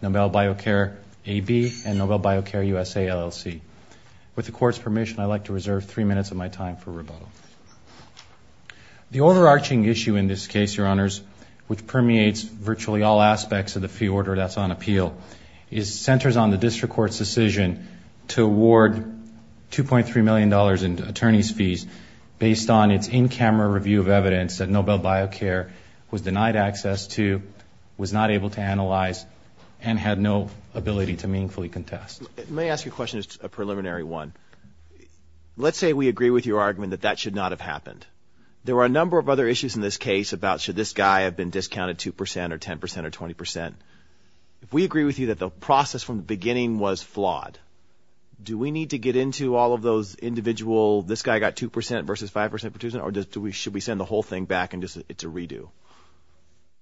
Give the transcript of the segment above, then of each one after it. Nobel Biocare AB and Nobel Biocare USA LLC. With the Court's permission, I'd like to reserve three minutes of my time for rebuttal. The overarching issue in this case, Your Honors, which permeates virtually all aspects of the fee order that's on appeal, centers on the $2.3 million in attorney's fees based on its in-camera review of evidence that Nobel Biocare was denied access to, was not able to analyze, and had no ability to meaningfully contest. Let me ask you a question as a preliminary one. Let's say we agree with your argument that that should not have happened. There were a number of other issues in this case about should this guy have been discounted 2 percent or 10 percent or 20 percent. If we agree with you that the process from the beginning was flawed, do we need to get into all of those individual, this guy got 2 percent versus 5 percent, or should we send the whole thing back to redo?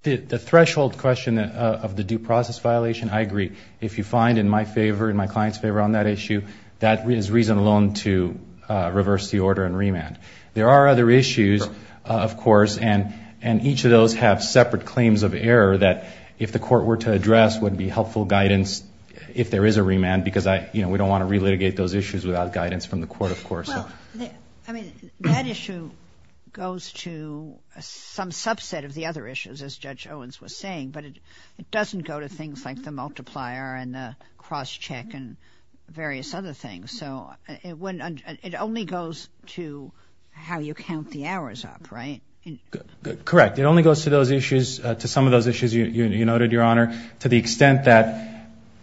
The threshold question of the due process violation, I agree. If you find in my favor, in my client's favor on that issue, that is reason alone to reverse the order and remand. There are other issues, of course, and each of those have separate claims of error that if the court were to address would be helpful guidance if there is a remand because we don't want to relitigate those issues without guidance from the court, of course. That issue goes to some subset of the other issues, as Judge Owens was saying, but it doesn't go to things like the multiplier and the cross-check and various other things. It only goes to how you count the hours up, right? Correct. It only goes to those issues, to some of those issues you noted, Your Honor, to the extent that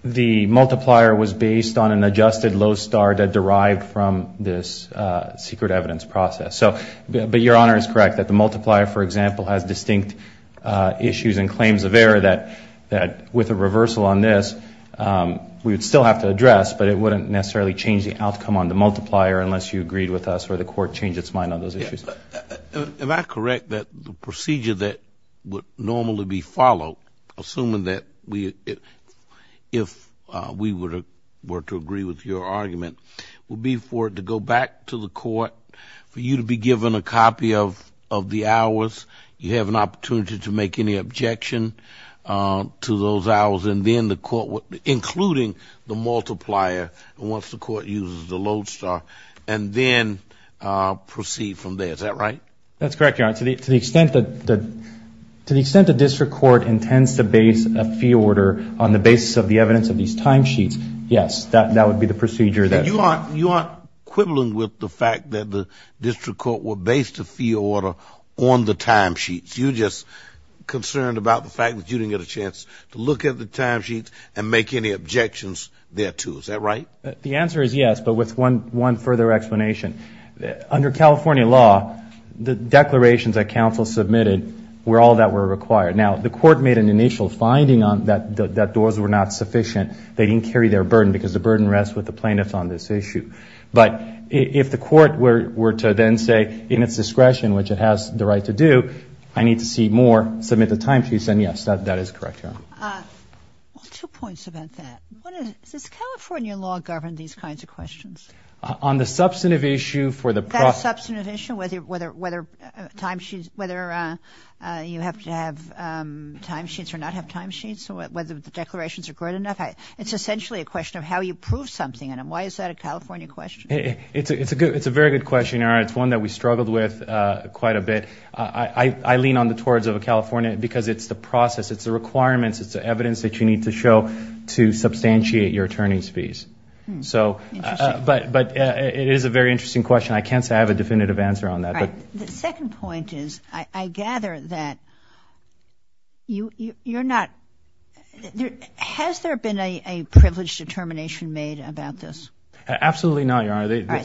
the multiplier was based on an adjusted low star that derived from this secret evidence process. But Your Honor is correct that the multiplier, for example, has distinct issues and claims of error that with a reversal on this we would still have to address, but it wouldn't necessarily change the outcome on the basis of the fact that the procedure that would normally be followed, assuming that if we were to agree with your argument, would be for it to go back to the court, for you to be given a copy of the hours, you have an opportunity to make any objection to those hours, and then the court would, including the multiplier, once the court uses the low star, and then proceed from there. Is that right? That's correct, Your Honor. To the extent that the district court intends to base a fee order on the basis of the evidence of these timesheets, yes, that would be the procedure. And you aren't equivalent with the fact that the district court will base the fee order on the timesheets. You're just concerned about the fact that you didn't get a chance to look at the timesheets and make any objections there, too. Is that right? The answer is yes, but with one further explanation. Under California law, the declarations that counsel submitted were all that were required. Now, the court made an initial finding that those were not sufficient. They didn't carry their burden, because the burden rests with the plaintiffs on this issue. But if the court were to then say in its discretion, which it has the right to do, I need to see more, submit the timesheets, then yes, that is correct, Your Honor. Well, two points about that. Does California law govern these kinds of questions? On the substantive issue for the process. That substantive issue, whether you have to have timesheets or not have timesheets, whether the declarations are good enough, it's essentially a question of how you prove something. Why is that a California question? It's a very good question, Your Honor. It's one that we struggled with quite a bit. I lean on the towards of a California, because it's the process. It's the requirements. It's the evidence that you need to show to substantiate your attorney's fees. But it is a very interesting question. I can't say I have a definitive answer on that. Has there been a privilege determination made about this? Absolutely not, Your Honor. I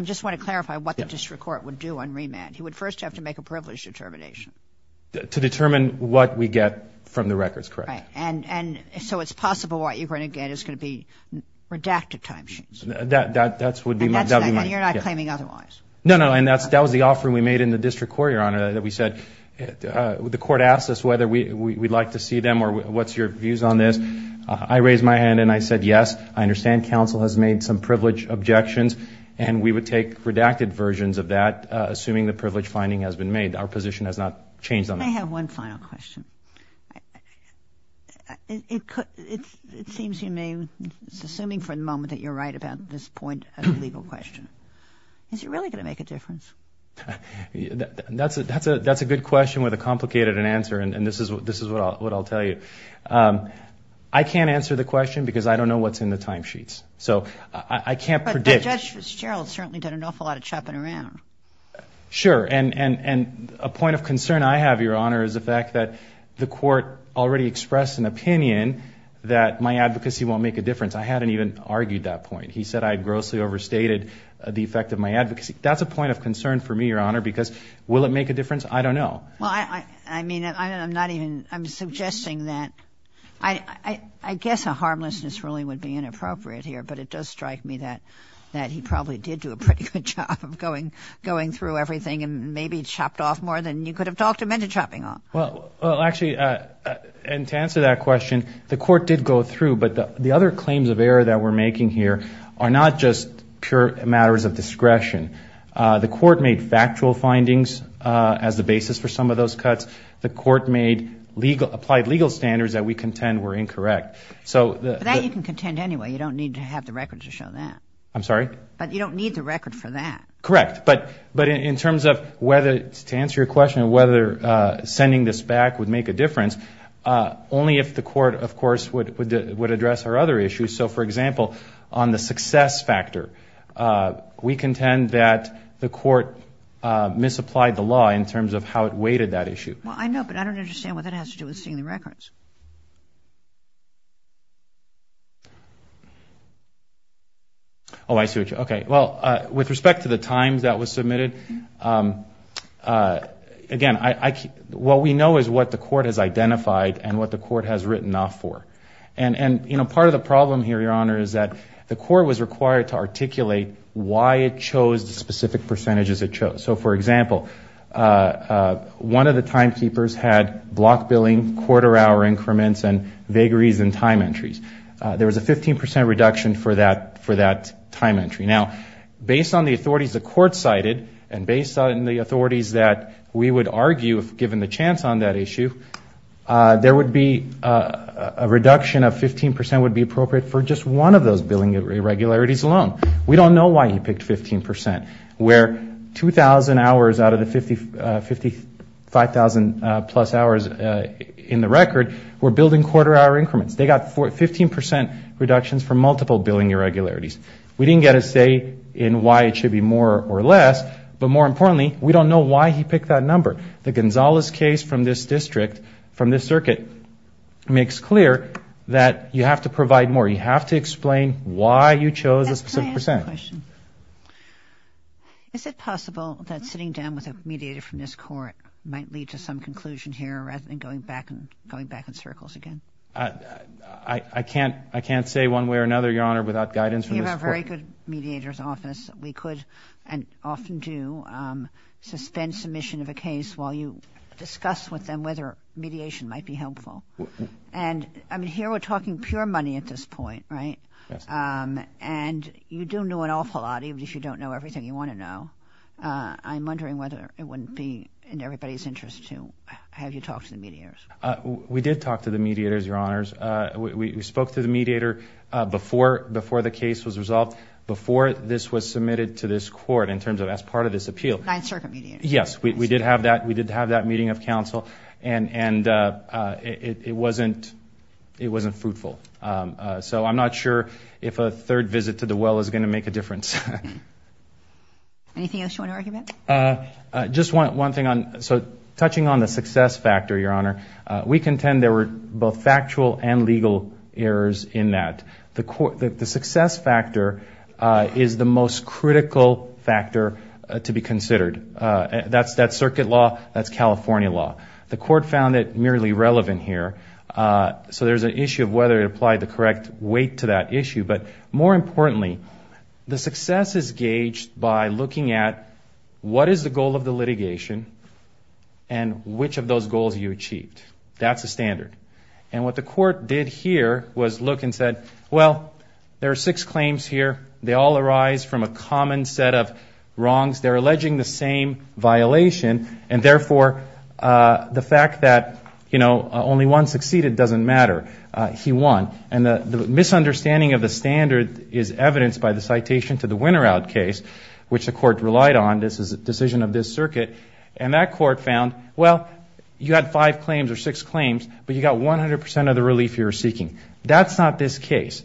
just want to clarify what the district court would do on remand. He would first have to make a privilege determination. To determine what we get from the records, correct? Right. And so it's possible what you're going to get is going to be redacted timesheets. That would be my... And you're not claiming otherwise. No, no. And that was the offering we made in the district court, Your Honor, that we said the court asked us whether we'd like to see them or what's your views on this. I raised my hand and I said yes. I understand counsel has made some privilege objections. And we would take redacted versions of that, assuming the privilege finding has been made. Our position has not changed on that. I have one final question. It seems to me, assuming for the moment that you're right about this point of the legal question, is it really going to make a difference? That's a good question with a complicated answer, and this is what I'll tell you. I can't answer the question because I don't know what's in the timesheets. But Judge Fitzgerald certainly did an awful lot of chopping around. Sure. And a point of concern I have, Your Honor, is the fact that the court already expressed an opinion that my advocacy won't make a difference. I hadn't even argued that point. He said I had grossly overstated the effect of my advocacy. That's a point of concern for me, Your Honor, because will it make a difference? I don't know. Well, I mean, I'm not even... I'm suggesting that... I guess a harmlessness ruling would be inappropriate here. But it does strike me that he probably did do a pretty good job of going through everything and maybe chopped off more than you could have talked him into chopping off. Well, actually, and to answer that question, the court did go through. But the other claims of error that we're making here are not just pure matters of discretion. The court made factual findings as the basis for some of those cuts. The court made legal... applied legal standards that we contend were incorrect. But that you can contend anyway. You don't need to have the record to show that. I'm sorry? But you don't need the record for that. Correct. But in terms of whether... to answer your question of whether sending this back would make a difference, only if the court, of course, would address our other issues. So, for example, on the success factor, we contend that the court misapplied the law in terms of how it weighted that issue. Well, I know, but I don't understand what that has to do with seeing the records. Oh, I see what you... Okay. Well, with respect to the time that was submitted, again, what we know is what the court has identified and what the court has written off for. And, you know, part of the problem here, Your Honor, is that the court was required to articulate why it chose the specific percentages it chose. So, for example, one of the timekeepers had block billing, quarter-hour increments, and vagaries in time entries. There was a 15% reduction for that time entry. Now, based on the authorities the court cited and based on the authorities that we would argue, if given the chance on that issue, there would be a reduction in time entries. A reduction of 15% would be appropriate for just one of those billing irregularities alone. We don't know why he picked 15%, where 2,000 hours out of the 55,000-plus hours in the record were building quarter-hour increments. They got 15% reductions for multiple billing irregularities. We didn't get a say in why it should be more or less, but more importantly, we don't know why he picked that number. The Gonzalez case from this district, from this circuit, makes clear that you have to provide more. You have to explain why you chose a specific percent. Is it possible that sitting down with a mediator from this court might lead to some conclusion here rather than going back in circles again? I can't say one way or another, Your Honor, without guidance from this court. We have a very good mediator's office. We could, and often do, suspend submission of a case while you discuss with them whether mediation might be helpful. Here we're talking pure money at this point, right? You do know an awful lot, even if you don't know everything you want to know. I'm wondering whether it wouldn't be in everybody's interest to have you talk to the mediators. We did talk to the mediators, Your Honors. We spoke to the mediator before the case was resolved, before this was submitted to this court in terms of as part of this appeal. Yes, we did have that meeting of counsel. And it wasn't fruitful. So I'm not sure if a third visit to the well is going to make a difference. Anything else you want to argue about? Just one thing. So touching on the success factor, Your Honor, we contend there were both factual and legal errors in that. The success factor is the most critical factor to be considered. That's circuit law. That's California law. The court found it merely relevant here. So there's an issue of whether it applied the correct weight to that issue. But more importantly, the success is gauged by looking at what is the goal of the litigation and which of those goals you achieved. That's a standard. And what the court did here was look and said, well, there are six claims here. They all arise from a common set of wrongs. They're alleging the same violation. And therefore, the fact that, you know, only one succeeded doesn't matter. He won. And the misunderstanding of the standard is evidenced by the citation to the winner out case, which the court relied on. This is a decision of this circuit. And that court found, well, you had five claims or six claims. But you got 100 percent of the relief you were seeking. That's not this case.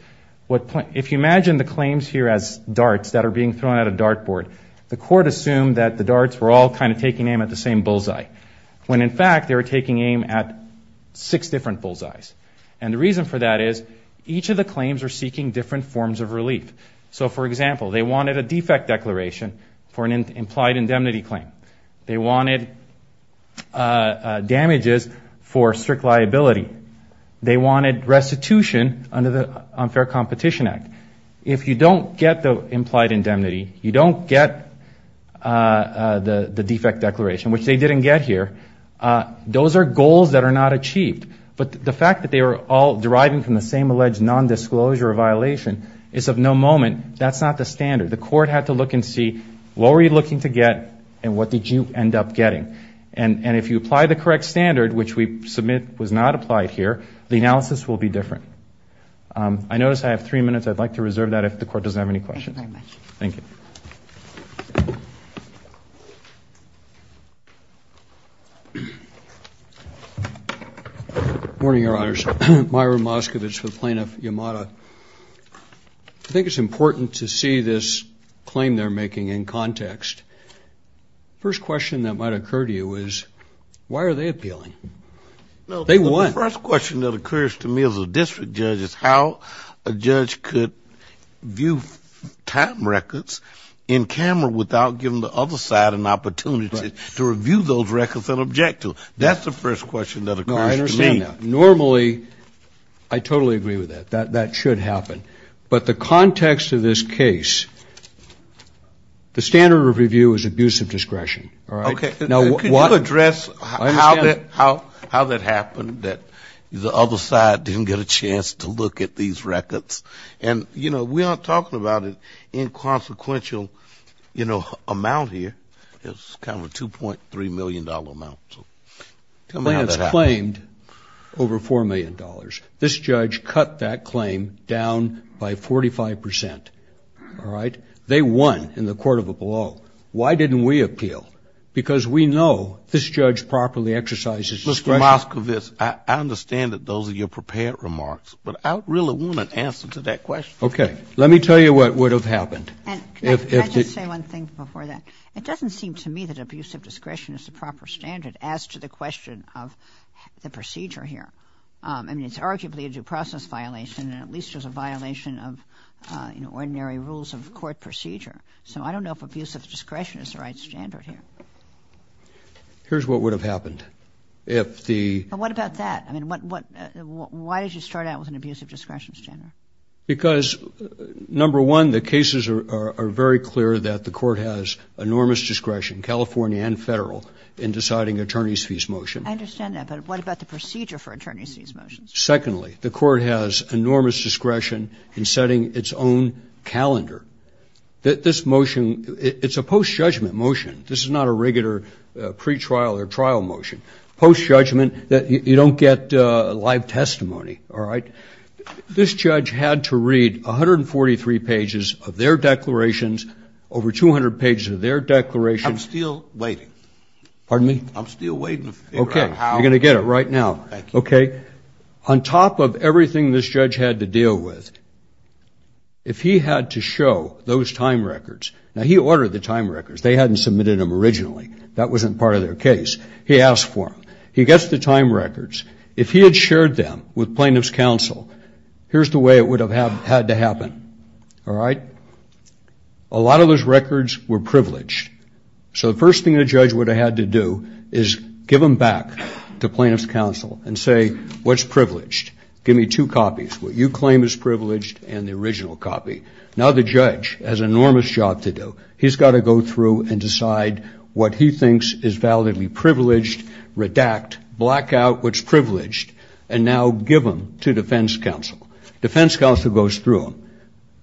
If you imagine the claims here as darts that are being thrown at a dart board, the court assumed that the darts were all kind of taking aim at the same bullseye. When, in fact, they were taking aim at six different bullseyes. And the reason for that is each of the claims are seeking different forms of relief. So, for example, they wanted a defect declaration for an implied indemnity claim. They wanted damages for strict liability. They wanted restitution under the Unfair Competition Act. If you don't get the implied indemnity, you don't get the defect declaration, which they didn't get here, those are goals that are not achieved. But the fact that they were all deriving from the same alleged nondisclosure violation is of no moment. That's not the standard. The court had to look and see what were you looking to get and what did you end up getting. And if you apply the correct standard, which we submit was not applied here, the analysis will be different. I notice I have three minutes. I'd like to reserve that if the court doesn't have any questions. Morning, Your Honors. Myron Moskovich with Plaintiff Yamada. I think it's important to see this claim they're making in context. First question that might occur to you is why are they appealing? They won. The first question that occurs to me as a district judge is how a judge could view time records in camera without giving the other side an opportunity to review those records and object to them. That's the first question that occurs to me. No, I understand that. Normally, I totally agree with that. That should happen. But the context of this case, the standard of review is abuse of discretion. All right? Okay. Can you address how that happened that the other side didn't get a chance to look at these records? And, you know, we aren't talking about an inconsequential, you know, amount here. It's kind of a $2.3 million amount. Plants claimed over $4 million. This judge cut that claim down by 45%. All right? They won in the court of a blow. Why didn't we appeal? Because we know this judge properly exercises discretion. Mr. Moskovitz, I understand that those are your prepared remarks, but I really want an answer to that question. Okay. Let me tell you what would have happened. Can I just say one thing before that? It doesn't seem to me that abuse of discretion is the proper standard as to the question of the procedure here. I mean, it's arguably a due process violation, and at least there's a violation of, you know, ordinary rules of court procedure. So I don't know if abuse of discretion is the right standard here. Here's what would have happened. What about that? I mean, why did you start out with an abuse of discretion standard? Because, number one, the cases are very clear that the court has enormous discretion, California and federal, in deciding attorneys' fees motion. I understand that. But what about the procedure for attorneys' fees motions? Secondly, the court has enormous discretion in setting its own calendar. This motion, it's a post-judgment motion. This is not a regular pretrial or trial motion. Post-judgment, you don't get live testimony. All right? This judge had to read 143 pages of their declarations, over 200 pages of their declarations. I'm still waiting. Pardon me? I'm still waiting to figure out how. Okay. You're going to get it right now. Okay. On top of everything this judge had to deal with, if he had to show those time records, now, he ordered the time records. They hadn't submitted them originally. That wasn't part of their case. He asked for them. He gets the time records. If he had shared them with plaintiff's counsel, here's the way it would have had to happen. All right? A lot of those records were privileged. So the first thing the judge would have had to do is give them back to plaintiff's counsel and say, what's privileged? Give me two copies, what you claim is privileged and the original copy. Now the judge has an enormous job to do. He's got to go through and decide what he thinks is validly privileged, redact, black out what's privileged, and now give them to defense counsel. Defense counsel goes through them.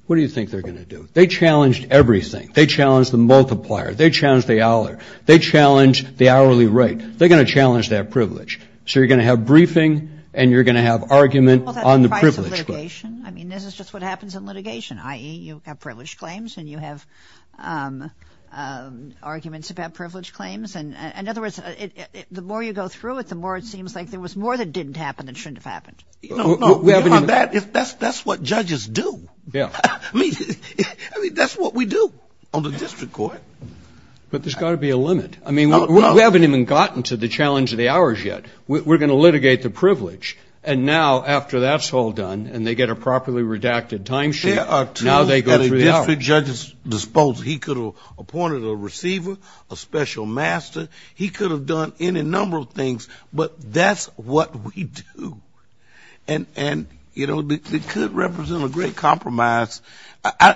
What do you think they're going to do? They challenged everything. They challenged the multiplier. They challenged the hour. They challenged the hourly rate. They're going to challenge that privilege. So you're going to have briefing and you're going to have argument on the privilege. I mean, this is just what happens in litigation, i.e., you have privileged claims and you have arguments about privileged claims. In other words, the more you go through it, the more it seems like there was more that didn't happen that shouldn't have happened. That's what judges do. I mean, that's what we do on the district court. But there's got to be a limit. I mean, we haven't even gotten to the challenge of the hours yet. We're going to litigate the privilege. And now, after that's all done and they get a properly redacted timesheet, now they go through the hours. There are two at a district judge's disposal. He could have appointed a receiver, a special master. He could have done any number of things, but that's what we do. And, you know, it could represent a great compromise.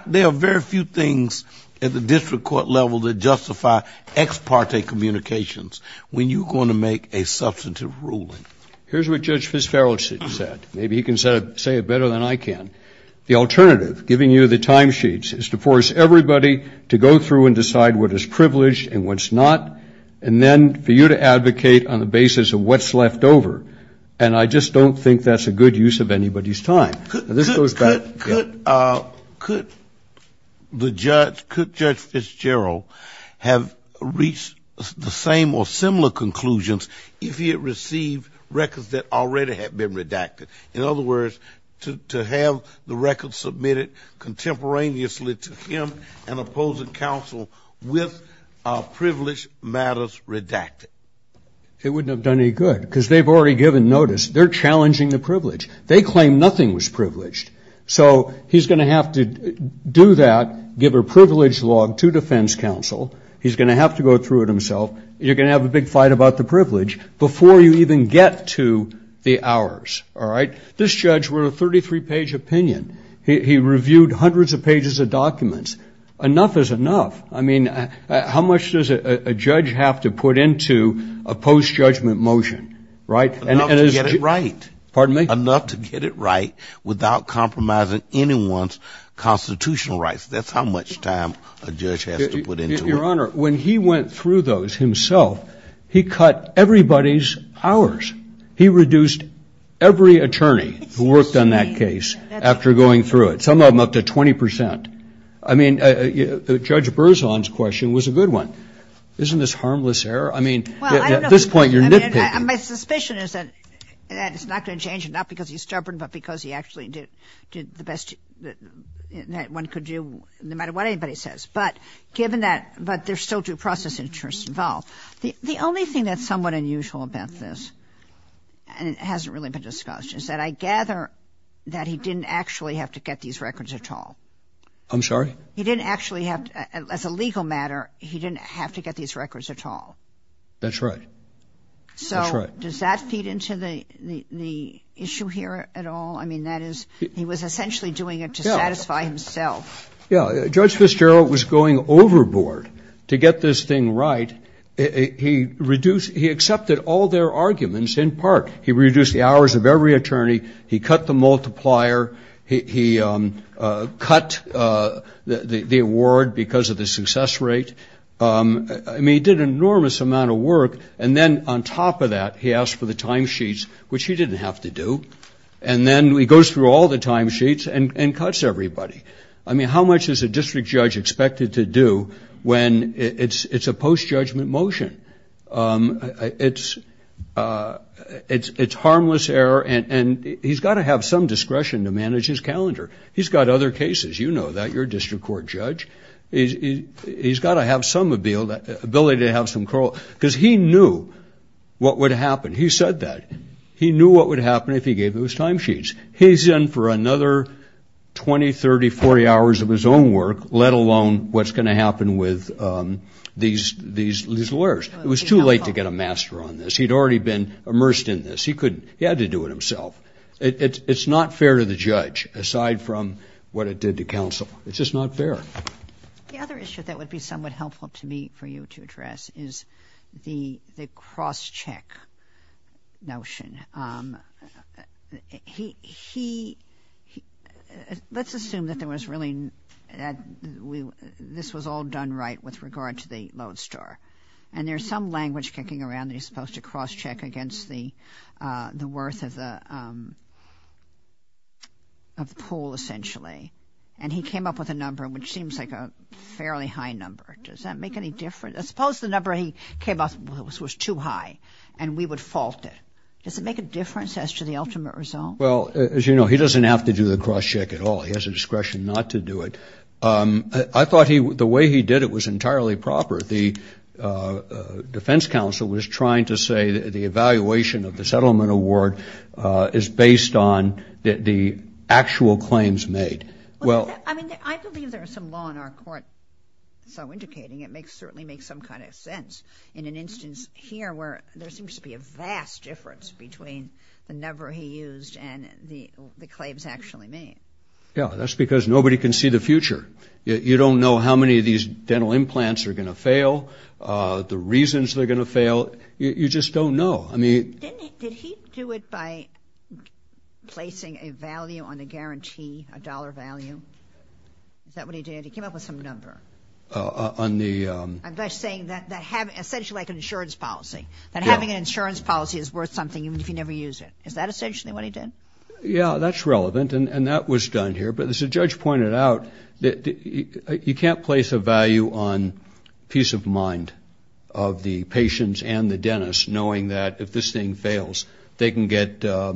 There are very few things at the district court level that justify ex parte communications when you're going to make a substantive ruling. Here's what Judge Fitzgerald said. Maybe he can say it better than I can. The alternative, giving you the timesheets, is to force everybody to go through and decide what is privileged and what's not and then for you to advocate on the basis of what's left over. And I just don't think that's a good use of anybody's time. Could the judge, could Judge Fitzgerald have reached the same or similar conclusions if he had received records that already had been redacted? In other words, to have the records submitted contemporaneously to him and opposing counsel with privilege matters redacted? It wouldn't have done any good because they've already given notice. They're challenging the privilege. They claim nothing was privileged. So he's going to have to do that, give a privilege log to defense counsel. He's going to have to go through it himself. You're going to have a big fight about the privilege before you even get to the hours, all right? This judge wrote a 33-page opinion. He reviewed hundreds of pages of documents. Enough is enough. I mean, how much does a judge have to put into a post-judgment motion, right? Enough to get it right. Pardon me? Enough to get it right without compromising anyone's constitutional rights. That's how much time a judge has to put into it. Your Honor, when he went through those himself, he cut everybody's hours. He reduced every attorney who worked on that case after going through it, some of them up to 20 percent. I mean, Judge Berzon's question was a good one. Isn't this harmless error? I mean, at this point you're nitpicking. My suspicion is that it's not going to change, not because he's stubborn, but because he actually did the best that one could do no matter what anybody says. But given that, but there's still due process interests involved. The only thing that's somewhat unusual about this, and it hasn't really been discussed, is that I gather that he didn't actually have to get these records at all. I'm sorry? He didn't actually have to. As a legal matter, he didn't have to get these records at all. That's right. So does that feed into the issue here at all? I mean, that is, he was essentially doing it to satisfy himself. Yeah. Judge Fitzgerald was going overboard to get this thing right. He reduced, he accepted all their arguments in part. He reduced the hours of every attorney. He cut the multiplier. He cut the award because of the success rate. I mean, he did an enormous amount of work, and then on top of that, he asked for the timesheets, which he didn't have to do. And then he goes through all the timesheets and cuts everybody. I mean, how much is a district judge expected to do when it's a post-judgment motion? It's harmless error, and he's got to have some discretion to manage his calendar. He's got other cases. You know that. You're a district court judge. He's got to have some ability to have some control, because he knew what would happen. He said that. He knew what would happen if he gave those timesheets. He's in for another 20, 30, 40 hours of his own work, let alone what's going to happen with these lawyers. It was too late to get a master on this. He'd already been immersed in this. He had to do it himself. It's not fair to the judge, aside from what it did to counsel. It's just not fair. The other issue that would be somewhat helpful to me for you to address is the cross-check notion. Let's assume that this was all done right with regard to the lodestar, and there's some language kicking around that he's supposed to cross-check against the worth of the pool, essentially. And he came up with a number, which seems like a fairly high number. Does that make any difference? Suppose the number he came up with was too high, and we would fault it. Does it make a difference as to the ultimate result? Well, as you know, he doesn't have to do the cross-check at all. He has a discretion not to do it. I thought the way he did it was entirely proper. The defense counsel was trying to say the evaluation of the settlement award is based on the actual claims made. Well, I mean, I believe there is some law in our court so indicating it certainly makes some kind of sense. In an instance here where there seems to be a vast difference between the number he used and the claims actually made. Yeah, that's because nobody can see the future. You don't know how many of these dental implants are going to fail, the reasons they're going to fail. You just don't know. I mean. Did he do it by placing a value on a guarantee, a dollar value? Is that what he did? He came up with some number. On the... I'm just saying that essentially like an insurance policy. That having an insurance policy is worth something even if you never use it. Is that essentially what he did? Yeah, that's relevant, and that was done here. But as the judge pointed out, you can't place a value on peace of mind of the patients and the dentist knowing that if this thing fails, they can get their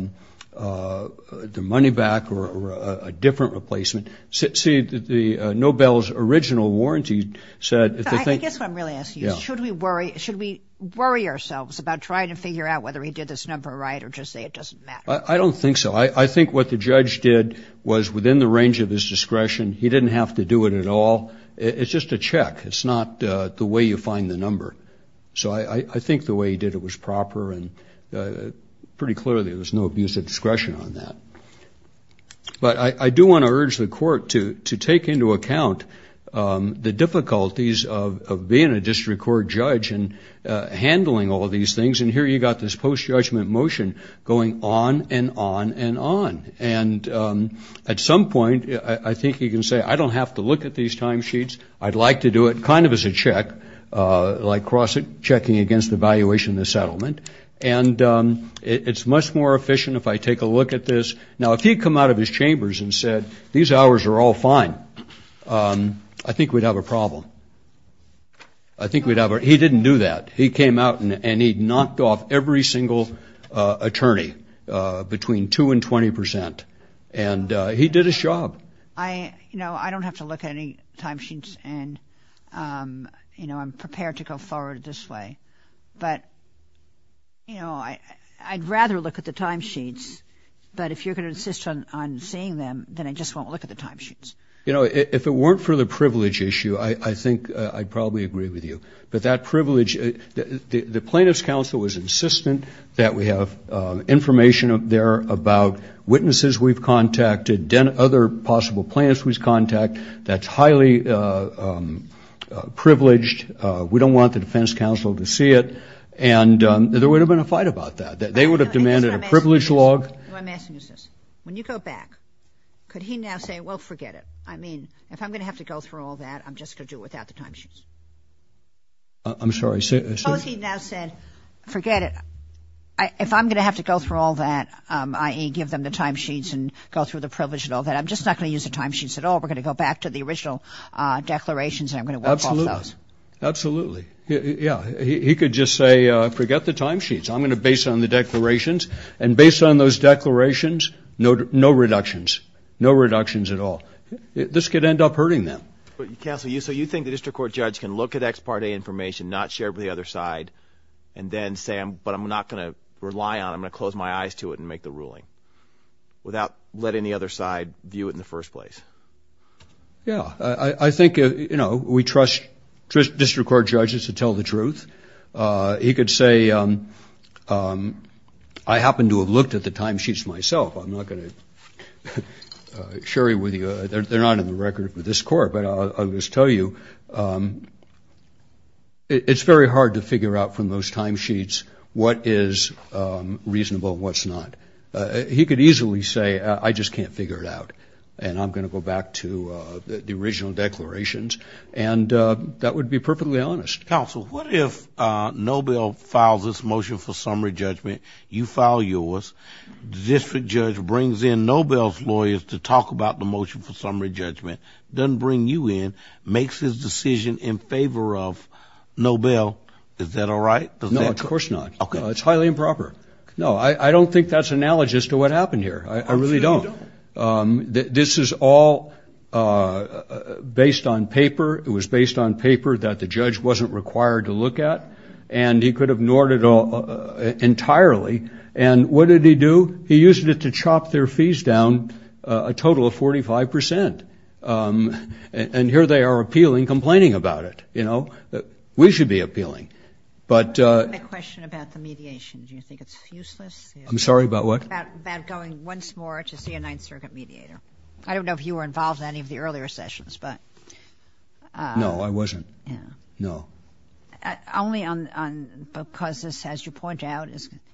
money back or a different replacement. See, the Nobel's original warranty said... I guess what I'm really asking is should we worry ourselves about trying to figure out whether he did this number right or just say it doesn't matter? I don't think so. I think what the judge did was within the range of his discretion. He didn't have to do it at all. It's just a check. It's not the way you find the number. So I think the way he did it was proper and pretty clearly there was no abuse of discretion on that. But I do want to urge the court to take into account the difficulties of being a district court judge and handling all these things. And here you've got this post-judgment motion going on and on and on. And at some point, I think you can say, I don't have to look at these timesheets. I'd like to do it kind of as a check, like cross-checking against the valuation of the settlement. And it's much more efficient if I take a look at this. Now, if he'd come out of his chambers and said, these hours are all fine, I think we'd have a problem. I think we'd have a... he didn't do that. He came out and he knocked off every single attorney between 2% and 20%. And he did his job. I don't have to look at any timesheets, and I'm prepared to go forward this way. But I'd rather look at the timesheets. But if you're going to insist on seeing them, then I just won't look at the timesheets. You know, if it weren't for the privilege issue, I think I'd probably agree with you. But that privilege, the plaintiff's counsel was insistent that we have information there about witnesses we've contacted, other possible plaintiffs we've contacted, that's highly privileged. We don't want the defense counsel to see it. And there would have been a fight about that. They would have demanded a privilege log. No, I'm asking you this. When you go back, could he now say, well, forget it. I mean, if I'm going to have to go through all that, I'm just going to do it without the timesheets. I'm sorry. Suppose he now said, forget it. If I'm going to have to go through all that, i.e., give them the timesheets and go through the privilege and all that, I'm just not going to use the timesheets at all. We're going to go back to the original declarations and I'm going to work off those. Absolutely. Absolutely. Yeah. He could just say, forget the timesheets. I'm going to base it on the declarations. And based on those declarations, no reductions. No reductions at all. This could end up hurting them. Counsel, so you think the district court judge can look at ex parte information, not share it with the other side, and then say, but I'm not going to rely on it, I'm going to close my eyes to it and make the ruling, without letting the other side view it in the first place? Yeah. I think, you know, we trust district court judges to tell the truth. He could say, I happen to have looked at the timesheets myself. I'm not going to share it with you. They're not in the record for this court. But I'll just tell you, it's very hard to figure out from those timesheets what is reasonable and what's not. He could easily say, I just can't figure it out, and I'm going to go back to the original declarations. And that would be perfectly honest. Counsel, what if Nobel files this motion for summary judgment, you file yours, the district judge brings in Nobel's lawyers to talk about the motion for summary judgment, doesn't bring you in, makes his decision in favor of Nobel, is that all right? No, of course not. Okay. It's highly improper. No, I don't think that's analogous to what happened here. I really don't. This is all based on paper. It was based on paper that the judge wasn't required to look at. And he could have ignored it entirely. And what did he do? He used it to chop their fees down a total of 45 percent. And here they are appealing, complaining about it. You know, we should be appealing. But the question about the mediation, do you think it's useless? I'm sorry, about what? About going once more to see a Ninth Circuit mediator. I don't know if you were involved in any of the earlier sessions. No, I wasn't. No. Only because, as you point out,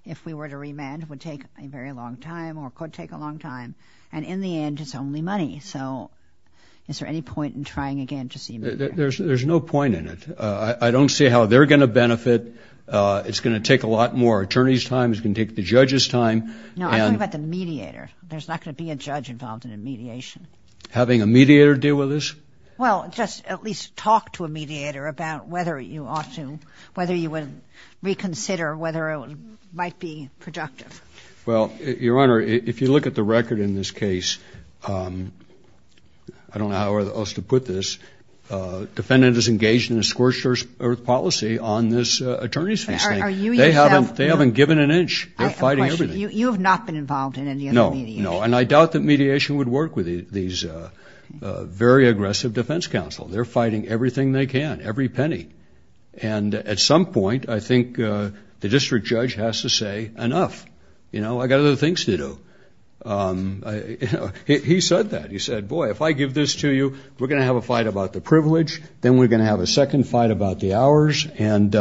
if we were to remand, it would take a very long time or could take a long time. And in the end, it's only money. So is there any point in trying again to see a mediator? There's no point in it. I don't see how they're going to benefit. It's going to take a lot more attorney's time. It's going to take the judge's time. No, I'm talking about the mediator. There's not going to be a judge involved in a mediation. Having a mediator deal with this? Well, just at least talk to a mediator about whether you ought to, whether you would reconsider whether it might be productive. Well, Your Honor, if you look at the record in this case, I don't know how else to put this, defendant is engaged in a scorched-earth policy on this attorney's case. They haven't given an inch. They're fighting everything. You have not been involved in any other mediation? No, and I doubt that mediation would work with these very aggressive defense counsel. They're fighting everything they can, every penny. And at some point, I think the district judge has to say, enough. I've got other things to do. He said that. He said, boy, if I give this to you, we're going to have a fight about the privilege. Then we're going to have a second fight about the hours. And,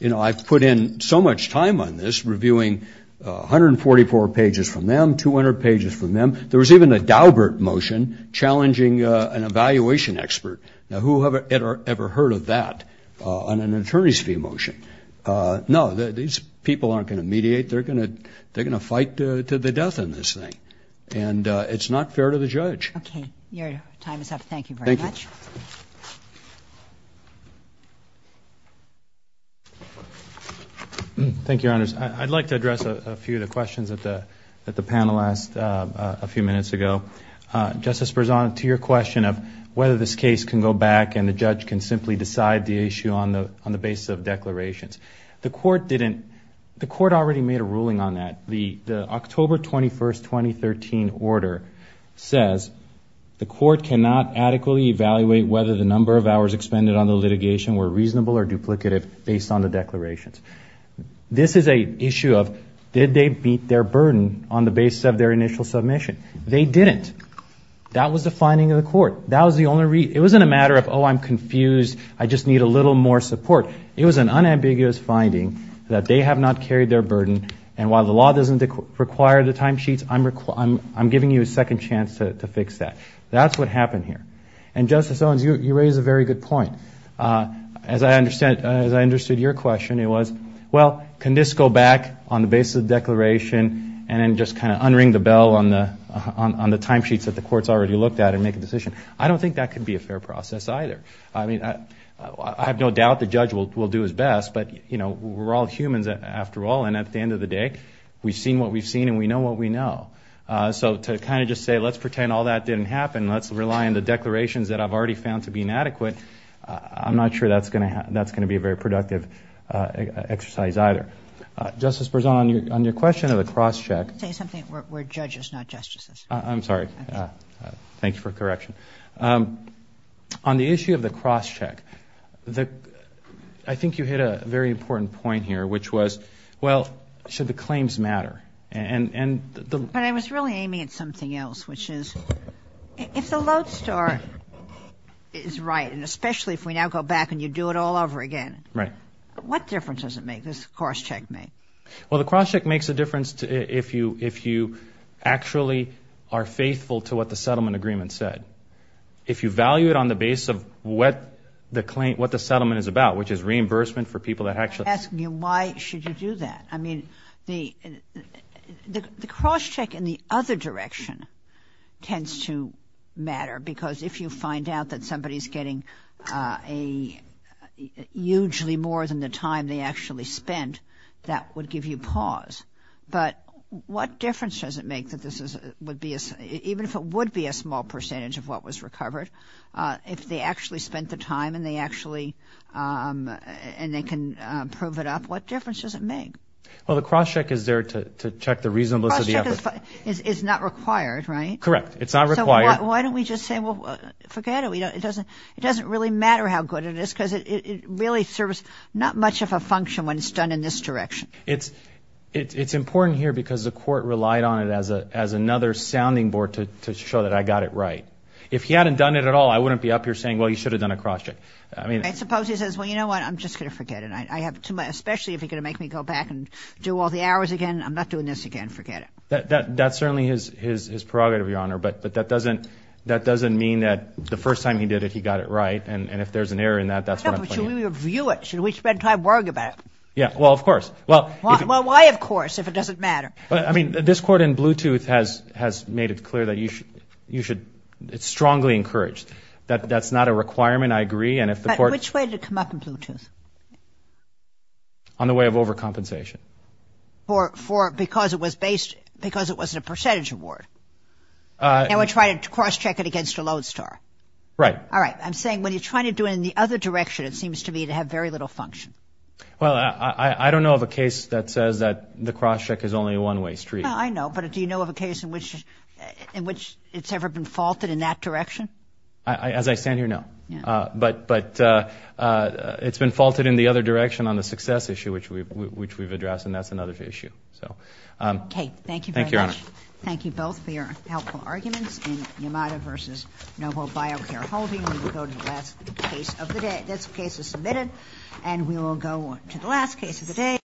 you know, I've put in so much time on this reviewing 144 pages from them, 200 pages from them. There was even a Daubert motion challenging an evaluation expert. Now, who had ever heard of that on an attorney's fee motion? No, these people aren't going to mediate. They're going to fight to the death on this thing. And it's not fair to the judge. Your time is up. Thank you very much. Thank you. Thank you, Your Honors. I'd like to address a few of the questions that the panel asked a few minutes ago. Justice Berzon, to your question of whether this case can go back and the judge can simply decide the issue on the basis of declarations, the court already made a ruling on that. The October 21, 2013 order says the court cannot adequately evaluate whether the number of hours expended on the litigation were reasonable or duplicative based on the declarations. This is an issue of did they beat their burden on the basis of their initial submission. They didn't. That was the finding of the court. That was the only reason. It wasn't a matter of, oh, I'm confused, I just need a little more support. It was an unambiguous finding that they have not carried their burden, and while the law doesn't require the timesheets, I'm giving you a second chance to fix that. That's what happened here. And, Justice Owens, you raise a very good point. As I understood your question, it was, well, can this go back on the basis of the declaration and then just kind of unring the bell on the timesheets that the court's already looked at and make a decision? I don't think that could be a fair process either. I mean, I have no doubt the judge will do his best, but, you know, we're all humans after all, and at the end of the day, we've seen what we've seen and we know what we know. So to kind of just say, let's pretend all that didn't happen, let's rely on the declarations that I've already found to be inadequate, I'm not sure that's going to be a very productive exercise either. Justice Berzon, on your question of the cross-check. Say something where judges, not justices. I'm sorry. Thanks for correction. On the issue of the cross-check, I think you hit a very important point here, which was, well, should the claims matter? But I was really aiming at something else, which is if the lodestar is right, and especially if we now go back and you do it all over again. Right. What difference does it make, this cross-check? Well, the cross-check makes a difference if you actually are faithful to what the settlement agreement said. If you value it on the base of what the settlement is about, which is reimbursement for people that actually. I'm asking you why should you do that? I mean, the cross-check in the other direction tends to matter, because if you find out that somebody is getting hugely more than the time they actually spent, that would give you pause. But what difference does it make that this is, even if it would be a small percentage of what was recovered, if they actually spent the time and they can prove it up, what difference does it make? Well, the cross-check is there to check the reasonableness of the effort. Cross-check is not required, right? Correct. It's not required. So why don't we just say, well, forget it. It doesn't really matter how good it is, because it really serves not much of a function when it's done in this direction. It's important here because the court relied on it as another sounding board to show that I got it right. If he hadn't done it at all, I wouldn't be up here saying, well, you should have done a cross-check. I suppose he says, well, you know what, I'm just going to forget it, especially if you're going to make me go back and do all the hours again. I'm not doing this again. That's certainly his prerogative, Your Honor, but that doesn't mean that the first time he did it, he got it right, and if there's an error in that, that's what I'm pointing at. Should we review it? Should we spend time worrying about it? Yeah, well, of course. Well, why of course if it doesn't matter? I mean, this court in Bluetooth has made it clear that you should strongly encourage. That's not a requirement, I agree. But which way did it come up in Bluetooth? On the way of overcompensation. Because it was a percentage award? And we're trying to cross-check it against a Lodestar? Right. All right. I'm saying when you're trying to do it in the other direction, it seems to me to have very little function. Well, I don't know of a case that says that the cross-check is only a one-way street. No, I know, but do you know of a case in which it's ever been faulted in that direction? As I stand here, no. But it's been faulted in the other direction on the success issue, which we've addressed, and that's another issue. Okay. Thank you very much. Thank you, Your Honor. Thank you both for your helpful arguments in Yamada v. Noble Biocare Holding. We will go to the last case of the day. This case is submitted, and we will go to the last case of the day.